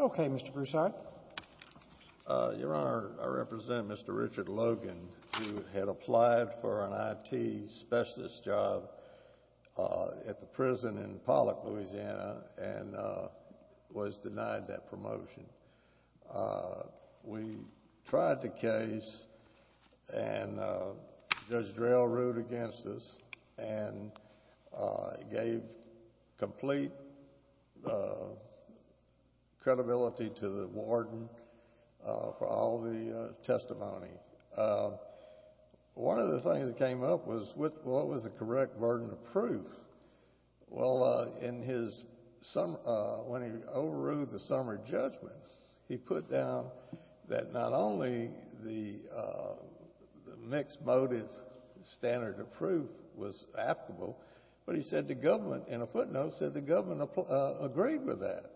Okay, Mr. Broussard. Your Honor, I represent Mr. Richard Logan, who had applied for an I.T. specialist job at the prison in Pollock, Louisiana, and was denied that promotion. We tried the case, and Judge Drell ruled against us, and he gave complete credibility to the warden for all the testimony. One of the things that came up was, what was the correct burden of proof? Well, in his summer — when he overruled the summer judgment, he put down that not only the mixed-motive standard of proof was applicable, but he said the government in a footnote said the government agreed with that.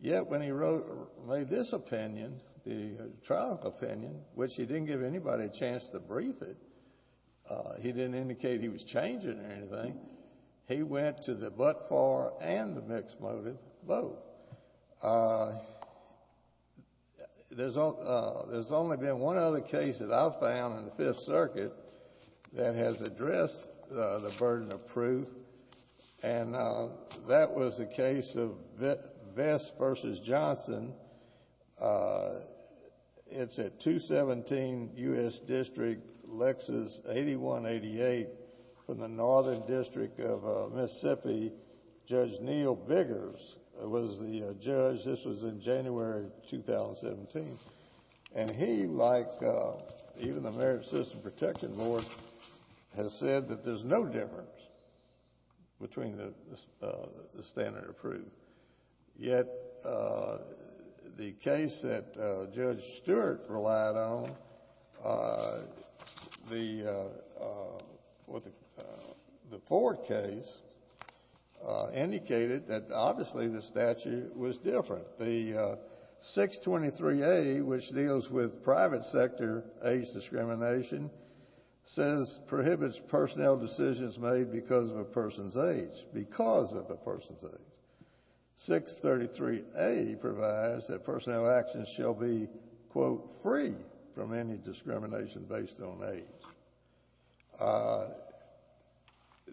Yet, when he wrote — made this opinion, the trial opinion, which he didn't give anybody a chance to brief it, he didn't indicate he was changing anything. He went to the but-for and the mixed-motive both. There's only been one other case that I've found in the Fifth Circuit that has addressed the burden of proof, and that was the case of Vest v. Johnson. It's at 217 U.S. District, Lexus 8188, from the Northern District of Mississippi. Judge Neil Biggers was the judge. This was in January 2017, and he, like even the Merit System Protection Board, has said that there's no difference between the standard of proof. Yet, the case that Judge Stewart relied on, the Ford case, indicated that obviously the statute was different. The 623A, which deals with private sector age discrimination, says prohibits personnel decisions made because of a person's age, because of a person's age. 633A provides that personnel actions shall be, quote, free from any discrimination based on age.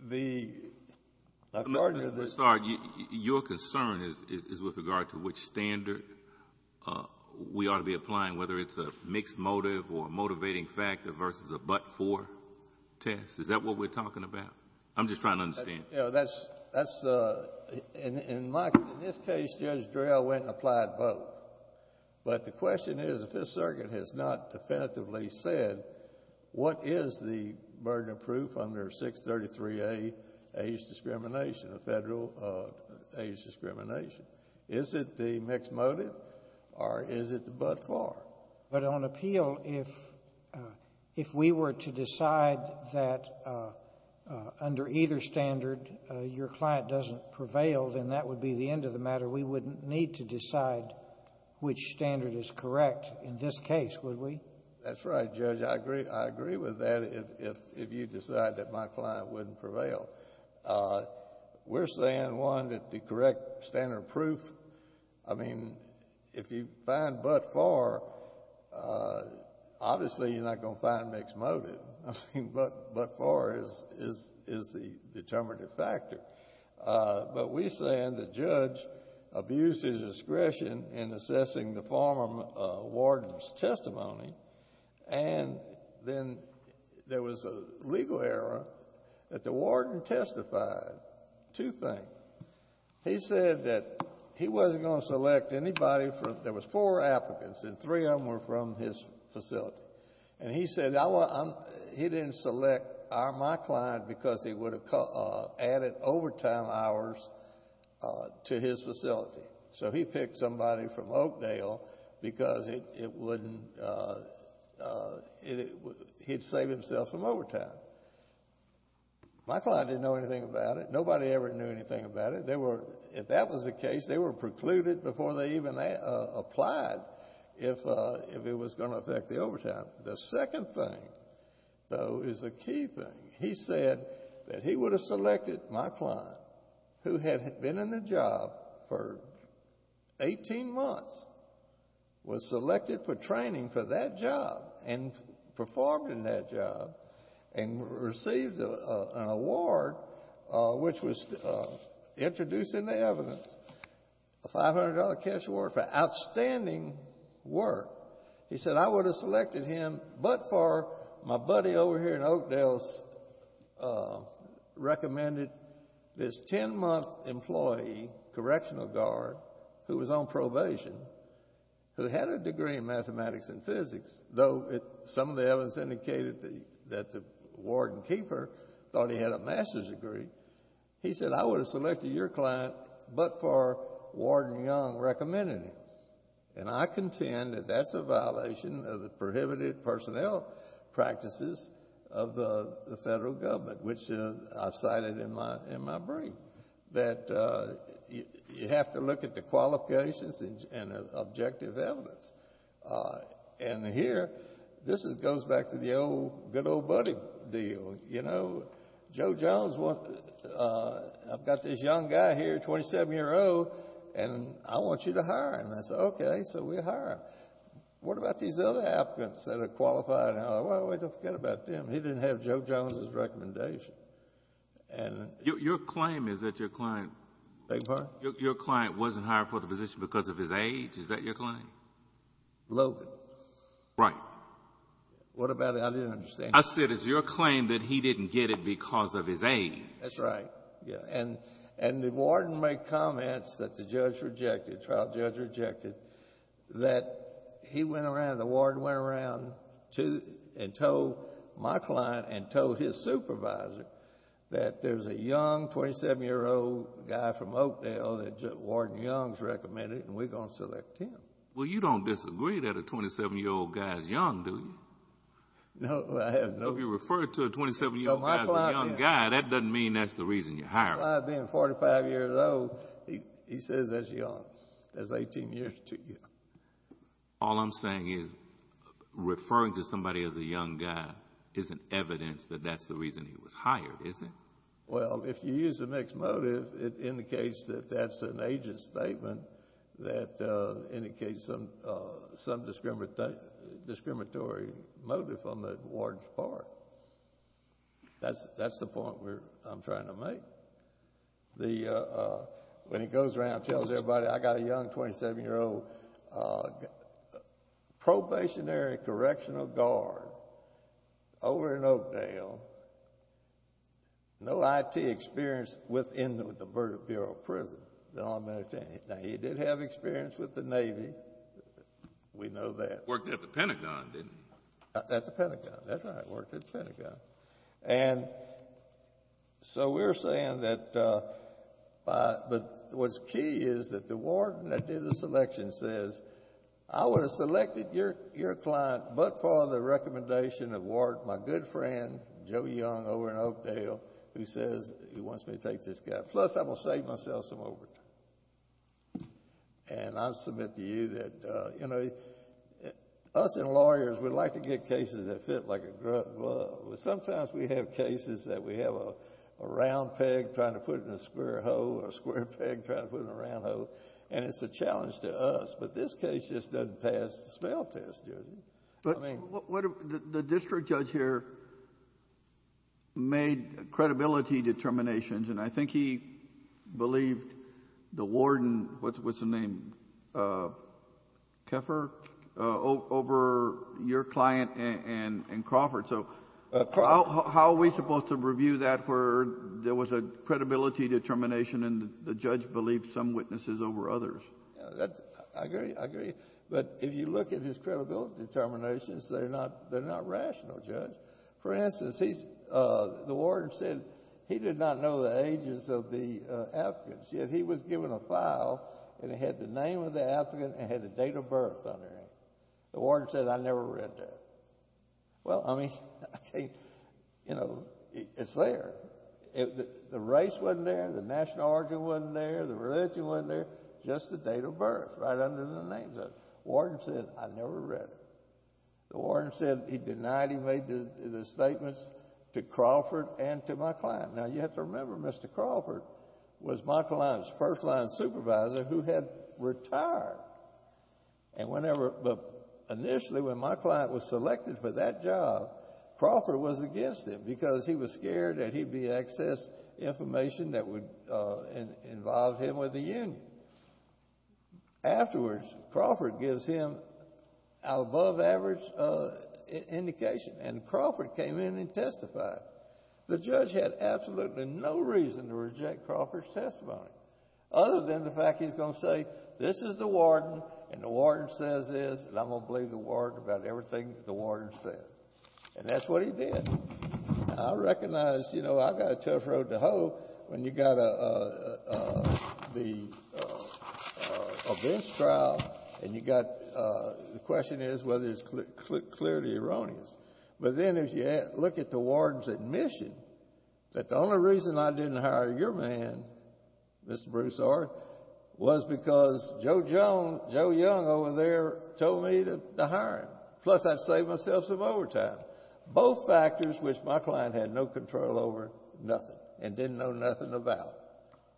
The — Mr. Broussard, your concern is with regard to which standard we ought to be applying, whether it's a mixed-motive or a motivating factor versus a but-for test. Is that what we're talking about? I'm just trying to understand. Yeah, that's — that's — in my — in this case, Judge Drell went and applied both. But the question is, the Fifth Circuit has not definitively said, what is the burden of proof under 633A age discrimination, a Federal age discrimination? Is it the mixed-motive, or is it the but-for? But on appeal, if — if we were to decide that under either standard your client doesn't prevail, then that would be the end of the matter. We wouldn't need to decide which standard is correct in this case, would we? That's right, Judge. I agree — I agree with that, if — if you decide that my client wouldn't prevail. We're saying, one, that the correct standard of proof, I mean, if you find but-for, obviously, you're not going to find mixed-motive. I mean, but-for is — is — is the determinative factor. But we're saying the judge abused his discretion in assessing the former warden's testimony, and then there was a legal error that the warden testified. Two things. He said that he wasn't going to select anybody from — there was four applicants, and three of them were from his facility. And he said, I want — he didn't select our — my client because he would have added overtime hours to his facility. So he picked somebody from Oakdale because it — it wouldn't — it — he'd save himself some overtime. My client didn't know anything about it. Nobody ever knew anything about it. They were — if that was the case, they were precluded before they even applied if — if it was going to affect the overtime. The second thing, though, is a key thing. He said that he would have selected my client, who had been in the job for 18 months, was selected for training for that job and performed in that job and received an award, which was introduced in the evidence, a $500 cash award for outstanding work. He said, I would have selected him but for — my buddy over here in Oakdale's — recommended this 10-month employee, correctional guard, who was on probation, who had a degree in mathematics and physics, though some of the evidence indicated that the warden keeper thought he had a master's degree. He said, I would have selected your client but for — Warden Young recommended him. And I contend that that's a violation of the prohibited personnel practices of the federal government, which I've cited in my — in my brief, that you have to look at the qualifications and objective evidence. And here, this goes back to the old good old buddy deal. You know, Joe Jones wanted — I've got this young guy here, 27-year-old, and I want you to hire him. I said, okay, so we'll hire him. What about these other applicants that are qualified? Well, don't forget about them. He didn't have Joe Jones's recommendation. And — Your claim is that your client — Beg your pardon? Your client wasn't hired for the position because of his age. Is that your claim? Logan. Right. What about — I didn't understand. I said, it's your claim that he didn't get it because of his age. That's right. Yeah. And the warden made comments that the judge rejected, trial judge rejected, that he went around — the warden went around to — and told my client and told his supervisor that there's a young, 27-year-old guy from Oakdale that Warden Young's recommended, and we're going to select him. Well, you don't disagree that a 27-year-old guy is young, do you? No, I have no — If you refer to a 27-year-old guy as a young guy, that doesn't mean that's the reason you hire him. My client being 45 years old, he says that's young. That's 18 years too young. All I'm saying is, referring to somebody as a young guy isn't evidence that that's the reason he was hired, is it? Well, if you use a mixed motive, it indicates that that's an agent statement that indicates some discriminatory motive on the warden's part. That's the point I'm trying to make. The — when he goes around and tells everybody, I got a young, 27-year-old probationary correctional guard over in Oakdale, no IT experience within the Bureau of Prison that I'm entertaining. Now, he did have experience with the Navy. We know that. Worked at the Pentagon, didn't he? At the Pentagon. That's right. Worked at the Pentagon. And so we're saying that — but what's key is that the warden that did the selection says, I would have selected your client but for the recommendation of warden, my good friend, Joe Young over in Oakdale, who says he wants me to take this guy. Plus, I'm going to save myself some overtime. And I submit to you that, you know, we — us and lawyers, we like to get cases that fit like a glove. But sometimes we have cases that we have a round peg trying to put in a square hole, a square peg trying to put in a round hole, and it's a challenge to us. But this case just doesn't pass the spell test, does it? But the district judge here made credibility determinations, and I think he believed the warden — what's the name? Keffer? — over your client and Crawford. So how are we supposed to review that where there was a credibility determination and the judge believed some witnesses over others? I agree. I agree. But if you look at his credibility determinations, they're not rational, Judge. For instance, he's — the warden said he did not know the ages of the applicants, yet he was given a file and it had the name of the applicant and it had the date of birth under it. The warden said, I never read that. Well, I mean, I can't — you know, it's there. The race wasn't there, the national origin wasn't there, the religion wasn't there, just the date of birth right under the names of it. Warden said, I never read it. The warden said he denied he made the statements to Crawford and to my client. Now, you have to remember, Mr. Crawford was my client's first-line supervisor who had retired. And whenever — but initially, when my client was selected for that job, Crawford was against it because he was scared that he'd be accessed information that would involve him with the union. Afterwards, Crawford gives him an above-average indication, and Crawford came in and testified. The judge had absolutely no reason to reject Crawford's testimony, other than the fact he's going to say, this is the warden, and the warden says this, and I'm going to believe the warden about everything that the warden said. And that's what he did. I recognize — you know, I got a tough road to hoe when you got the offense trial and you got — the question is whether it's clearly erroneous. But then if you look at the warden's admission, that the only reason I didn't hire your man, Mr. Broussard, was because Joe Young over there told me to hire him. Plus, I'd saved myself some overtime. Both factors, which my client had no control over, nothing, and didn't know nothing about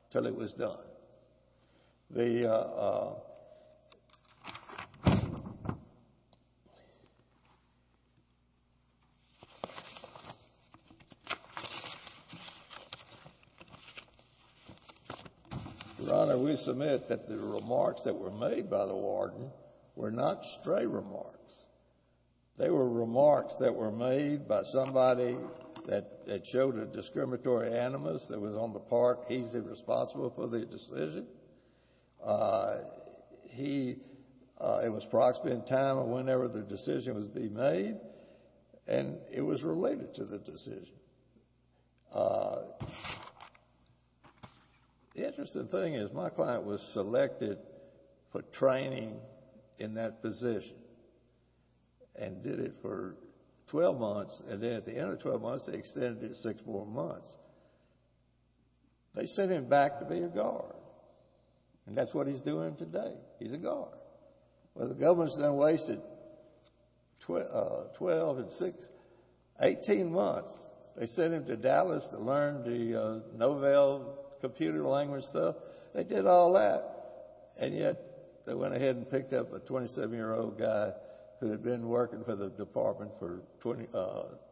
until it was done. But the — Your Honor, we submit that the remarks that were made by the warden were not stray remarks. They were remarks that were made by somebody that showed a discriminatory animus that was on the part. He's responsible for the decision. He — it was proximate in time of whenever the decision was being made, and it was related to the decision. The interesting thing is my client was selected for training in that position and did it for 12 months, and then at the end of 12 months, they extended it six more months. They sent him back to be a guard, and that's what he's doing today. He's a guard. Well, the government's now wasted 12 and 6 — 18 months. They sent him to Dallas to learn the Novell computer language stuff. They did all that, and yet they went ahead and picked up a 27-year-old guy who had been working for the department for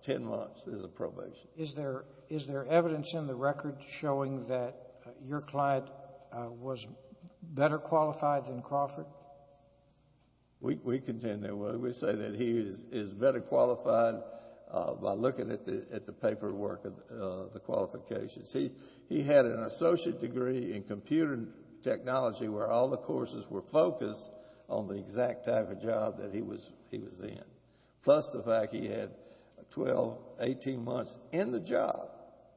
10 months as a probation. Is there evidence in the record showing that your client was better qualified than Crawford? We contend there was. We say that he is better qualified by looking at the paperwork of the qualifications. He had an associate degree in computer technology where all the courses were focused on the exact type of job that he was in, plus the fact he had 12, 18 months in the job,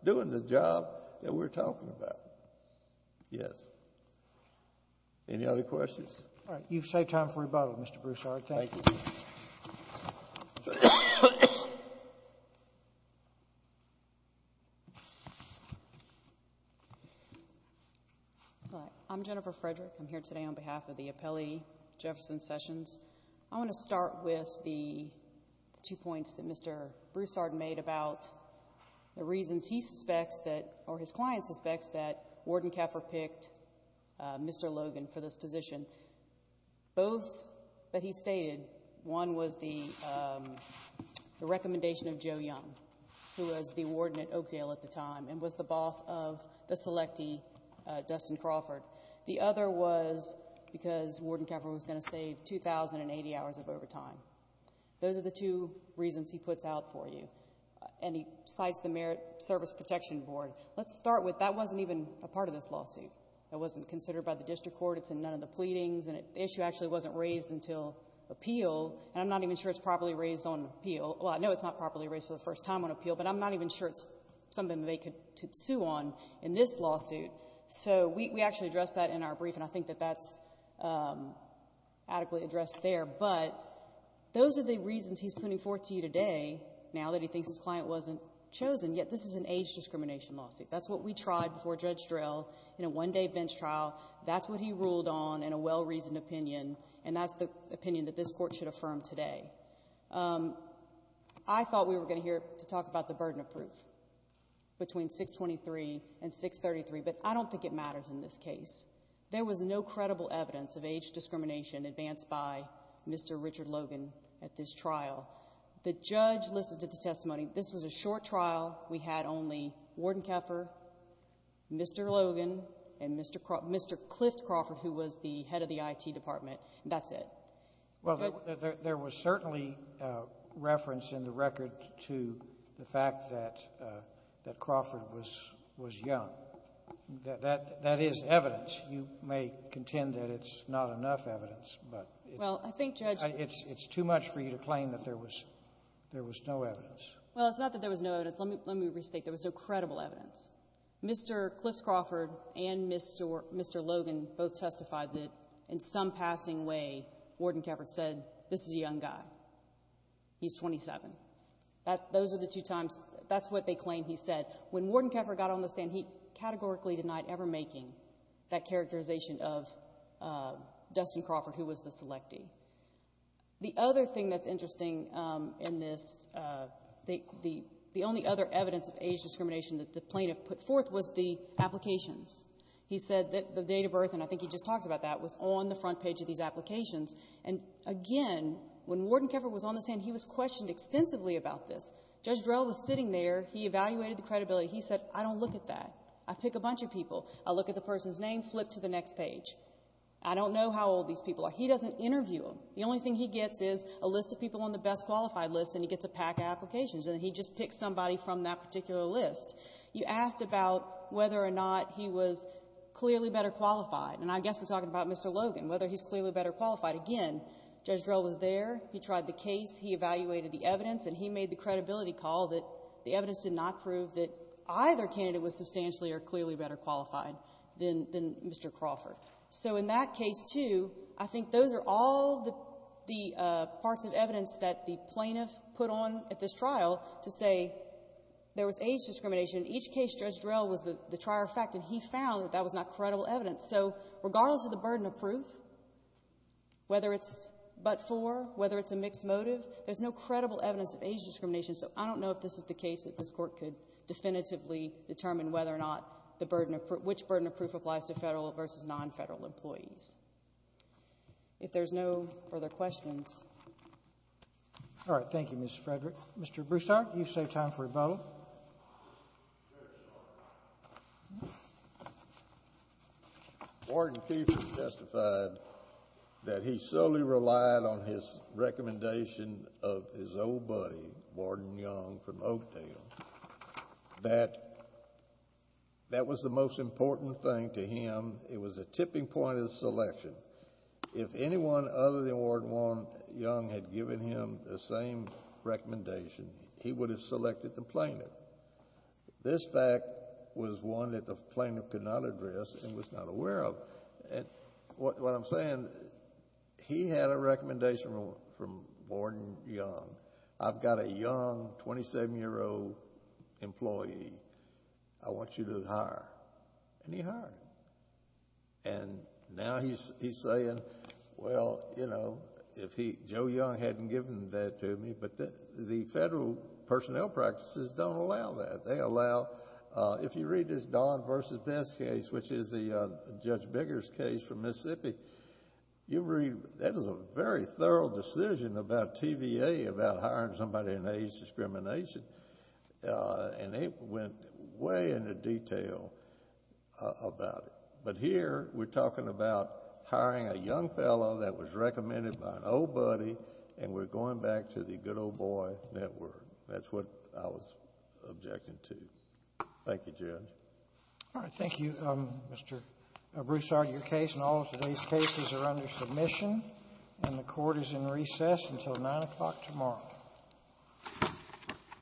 doing the job that we're talking about. Yes. Any other questions? All right. You've saved time for rebuttal, Mr. Broussard. Thank you. Hi. I'm Jennifer Frederick. I'm here today on behalf of the appellee, Jefferson Sessions. I want to start with the two points that Mr. Broussard made about the reasons he suspects that — or his client suspects that Warden Kaffer picked Mr. Logan for this position. Both that he stated, one was the recommendation of Joe Young, who was the warden at Oakdale at the time and was the boss of the selectee, Dustin Crawford. The other was because Warden Kaffer was going to save 2,080 hours of overtime. Those are the two reasons he puts out for you. And he cites the Merit Service Protection Board. Let's start with that wasn't even a part of this lawsuit. It wasn't considered by the district court. It's in none of the pleadings. And the issue actually wasn't raised until appeal. And I'm not even sure it's properly raised on appeal. Well, I know it's not properly raised for the first time on appeal, but I'm not even sure it's something they could sue on in this lawsuit. So we actually addressed that in our brief, and I think that that's adequately addressed there. But those are the reasons he's putting forth to you today, now that he thinks his client wasn't chosen. Yet this is an age discrimination lawsuit. That's what we tried before Judge Drell in a one-day bench trial. That's what he ruled on in a well-reasoned opinion. And that's the opinion that this Court should affirm today. I thought we were going to hear to talk about the burden of proof between 623 and 633. But I don't think it matters in this case. There was no credible evidence of age discrimination advanced by Mr. Richard Logan at this trial. The judge listened to the testimony. This was a short trial. We had only Warden Keffer, Mr. Logan, and Mr. Cliff Crawford, who was the head of the IT department. That's it. Well, there was certainly reference in the record to the fact that Crawford was young. That is evidence. You may contend that it's not enough evidence. But it's too much for you to claim that there was no evidence. Well, it's not that there was no evidence. Let me restate. There was no credible evidence. Mr. Cliff Crawford and Mr. Logan both testified that in some passing way, Warden Keffer said, this is a young guy. He's 27. Those are the two times. That's what they claim he said. When Warden Keffer got on the stand, he categorically denied ever making that characterization of Dustin Crawford, who was the selectee. The other thing that's interesting in this, the only other evidence of age discrimination that the plaintiff put forth was the applications. He said that the date of birth, and I think he just talked about that, was on the front page of these applications. And again, when Warden Keffer was on the stand, he was questioned extensively about this. Judge Drell was sitting there. He evaluated the credibility. He said, I don't look at that. I pick a bunch of people. I look at the person's name, flip to the next page. I don't know how old these people are. He doesn't interview them. The only thing he gets is a list of people on the best qualified list, and he gets a pack of applications. And he just picks somebody from that particular list. You asked about whether or not he was clearly better qualified. And I guess we're talking about Mr. Logan, whether he's clearly better qualified. Again, Judge Drell was there. He tried the case. He evaluated the evidence. And he made the credibility call that the evidence did not prove that either candidate was substantially or clearly better qualified than Mr. Crawford. So in that case, too, I think those are all the parts of evidence that the plaintiff put on at this trial to say there was age discrimination. Each case, Judge Drell was the trier of fact, and he found that that was not credible evidence. So regardless of the burden of proof, whether it's but-for, whether it's a mixed motive, there's no credible evidence of age discrimination. So I don't know if this is the case that this Court could definitively determine whether or not the burden of proof, which burden of proof applies to Federal versus non-Federal employees. If there's no further questions. All right. Thank you, Ms. Frederick. Mr. Broussard, you've saved time for rebuttal. Warden Keefer justified that he solely relied on his recommendation of his old buddy, Warden Young from Oakdale, that that was the most important thing to him. It was a tipping point of the selection. If anyone other than Warden Young had given him the same recommendation, he would have complained of it. This fact was one that the plaintiff could not address and was not aware of. What I'm saying, he had a recommendation from Warden Young. I've got a young, 27-year-old employee. I want you to hire. And he hired him. And now he's saying, well, you know, if he, Joe Young hadn't given that to me. The Federal personnel practices don't allow that. They allow... If you read this Dodd versus Best case, which is the Judge Biggers case from Mississippi, that is a very thorough decision about TVA, about hiring somebody in age discrimination. And they went way into detail about it. But here, we're talking about hiring a young fellow that was recommended by an old buddy, and we're going back to the good old boy network. That's what I was objecting to. Thank you, Judge. All right. Thank you, Mr. Broussard. Your case and all of today's cases are under submission, and the Court is in recess until 9 o'clock tomorrow.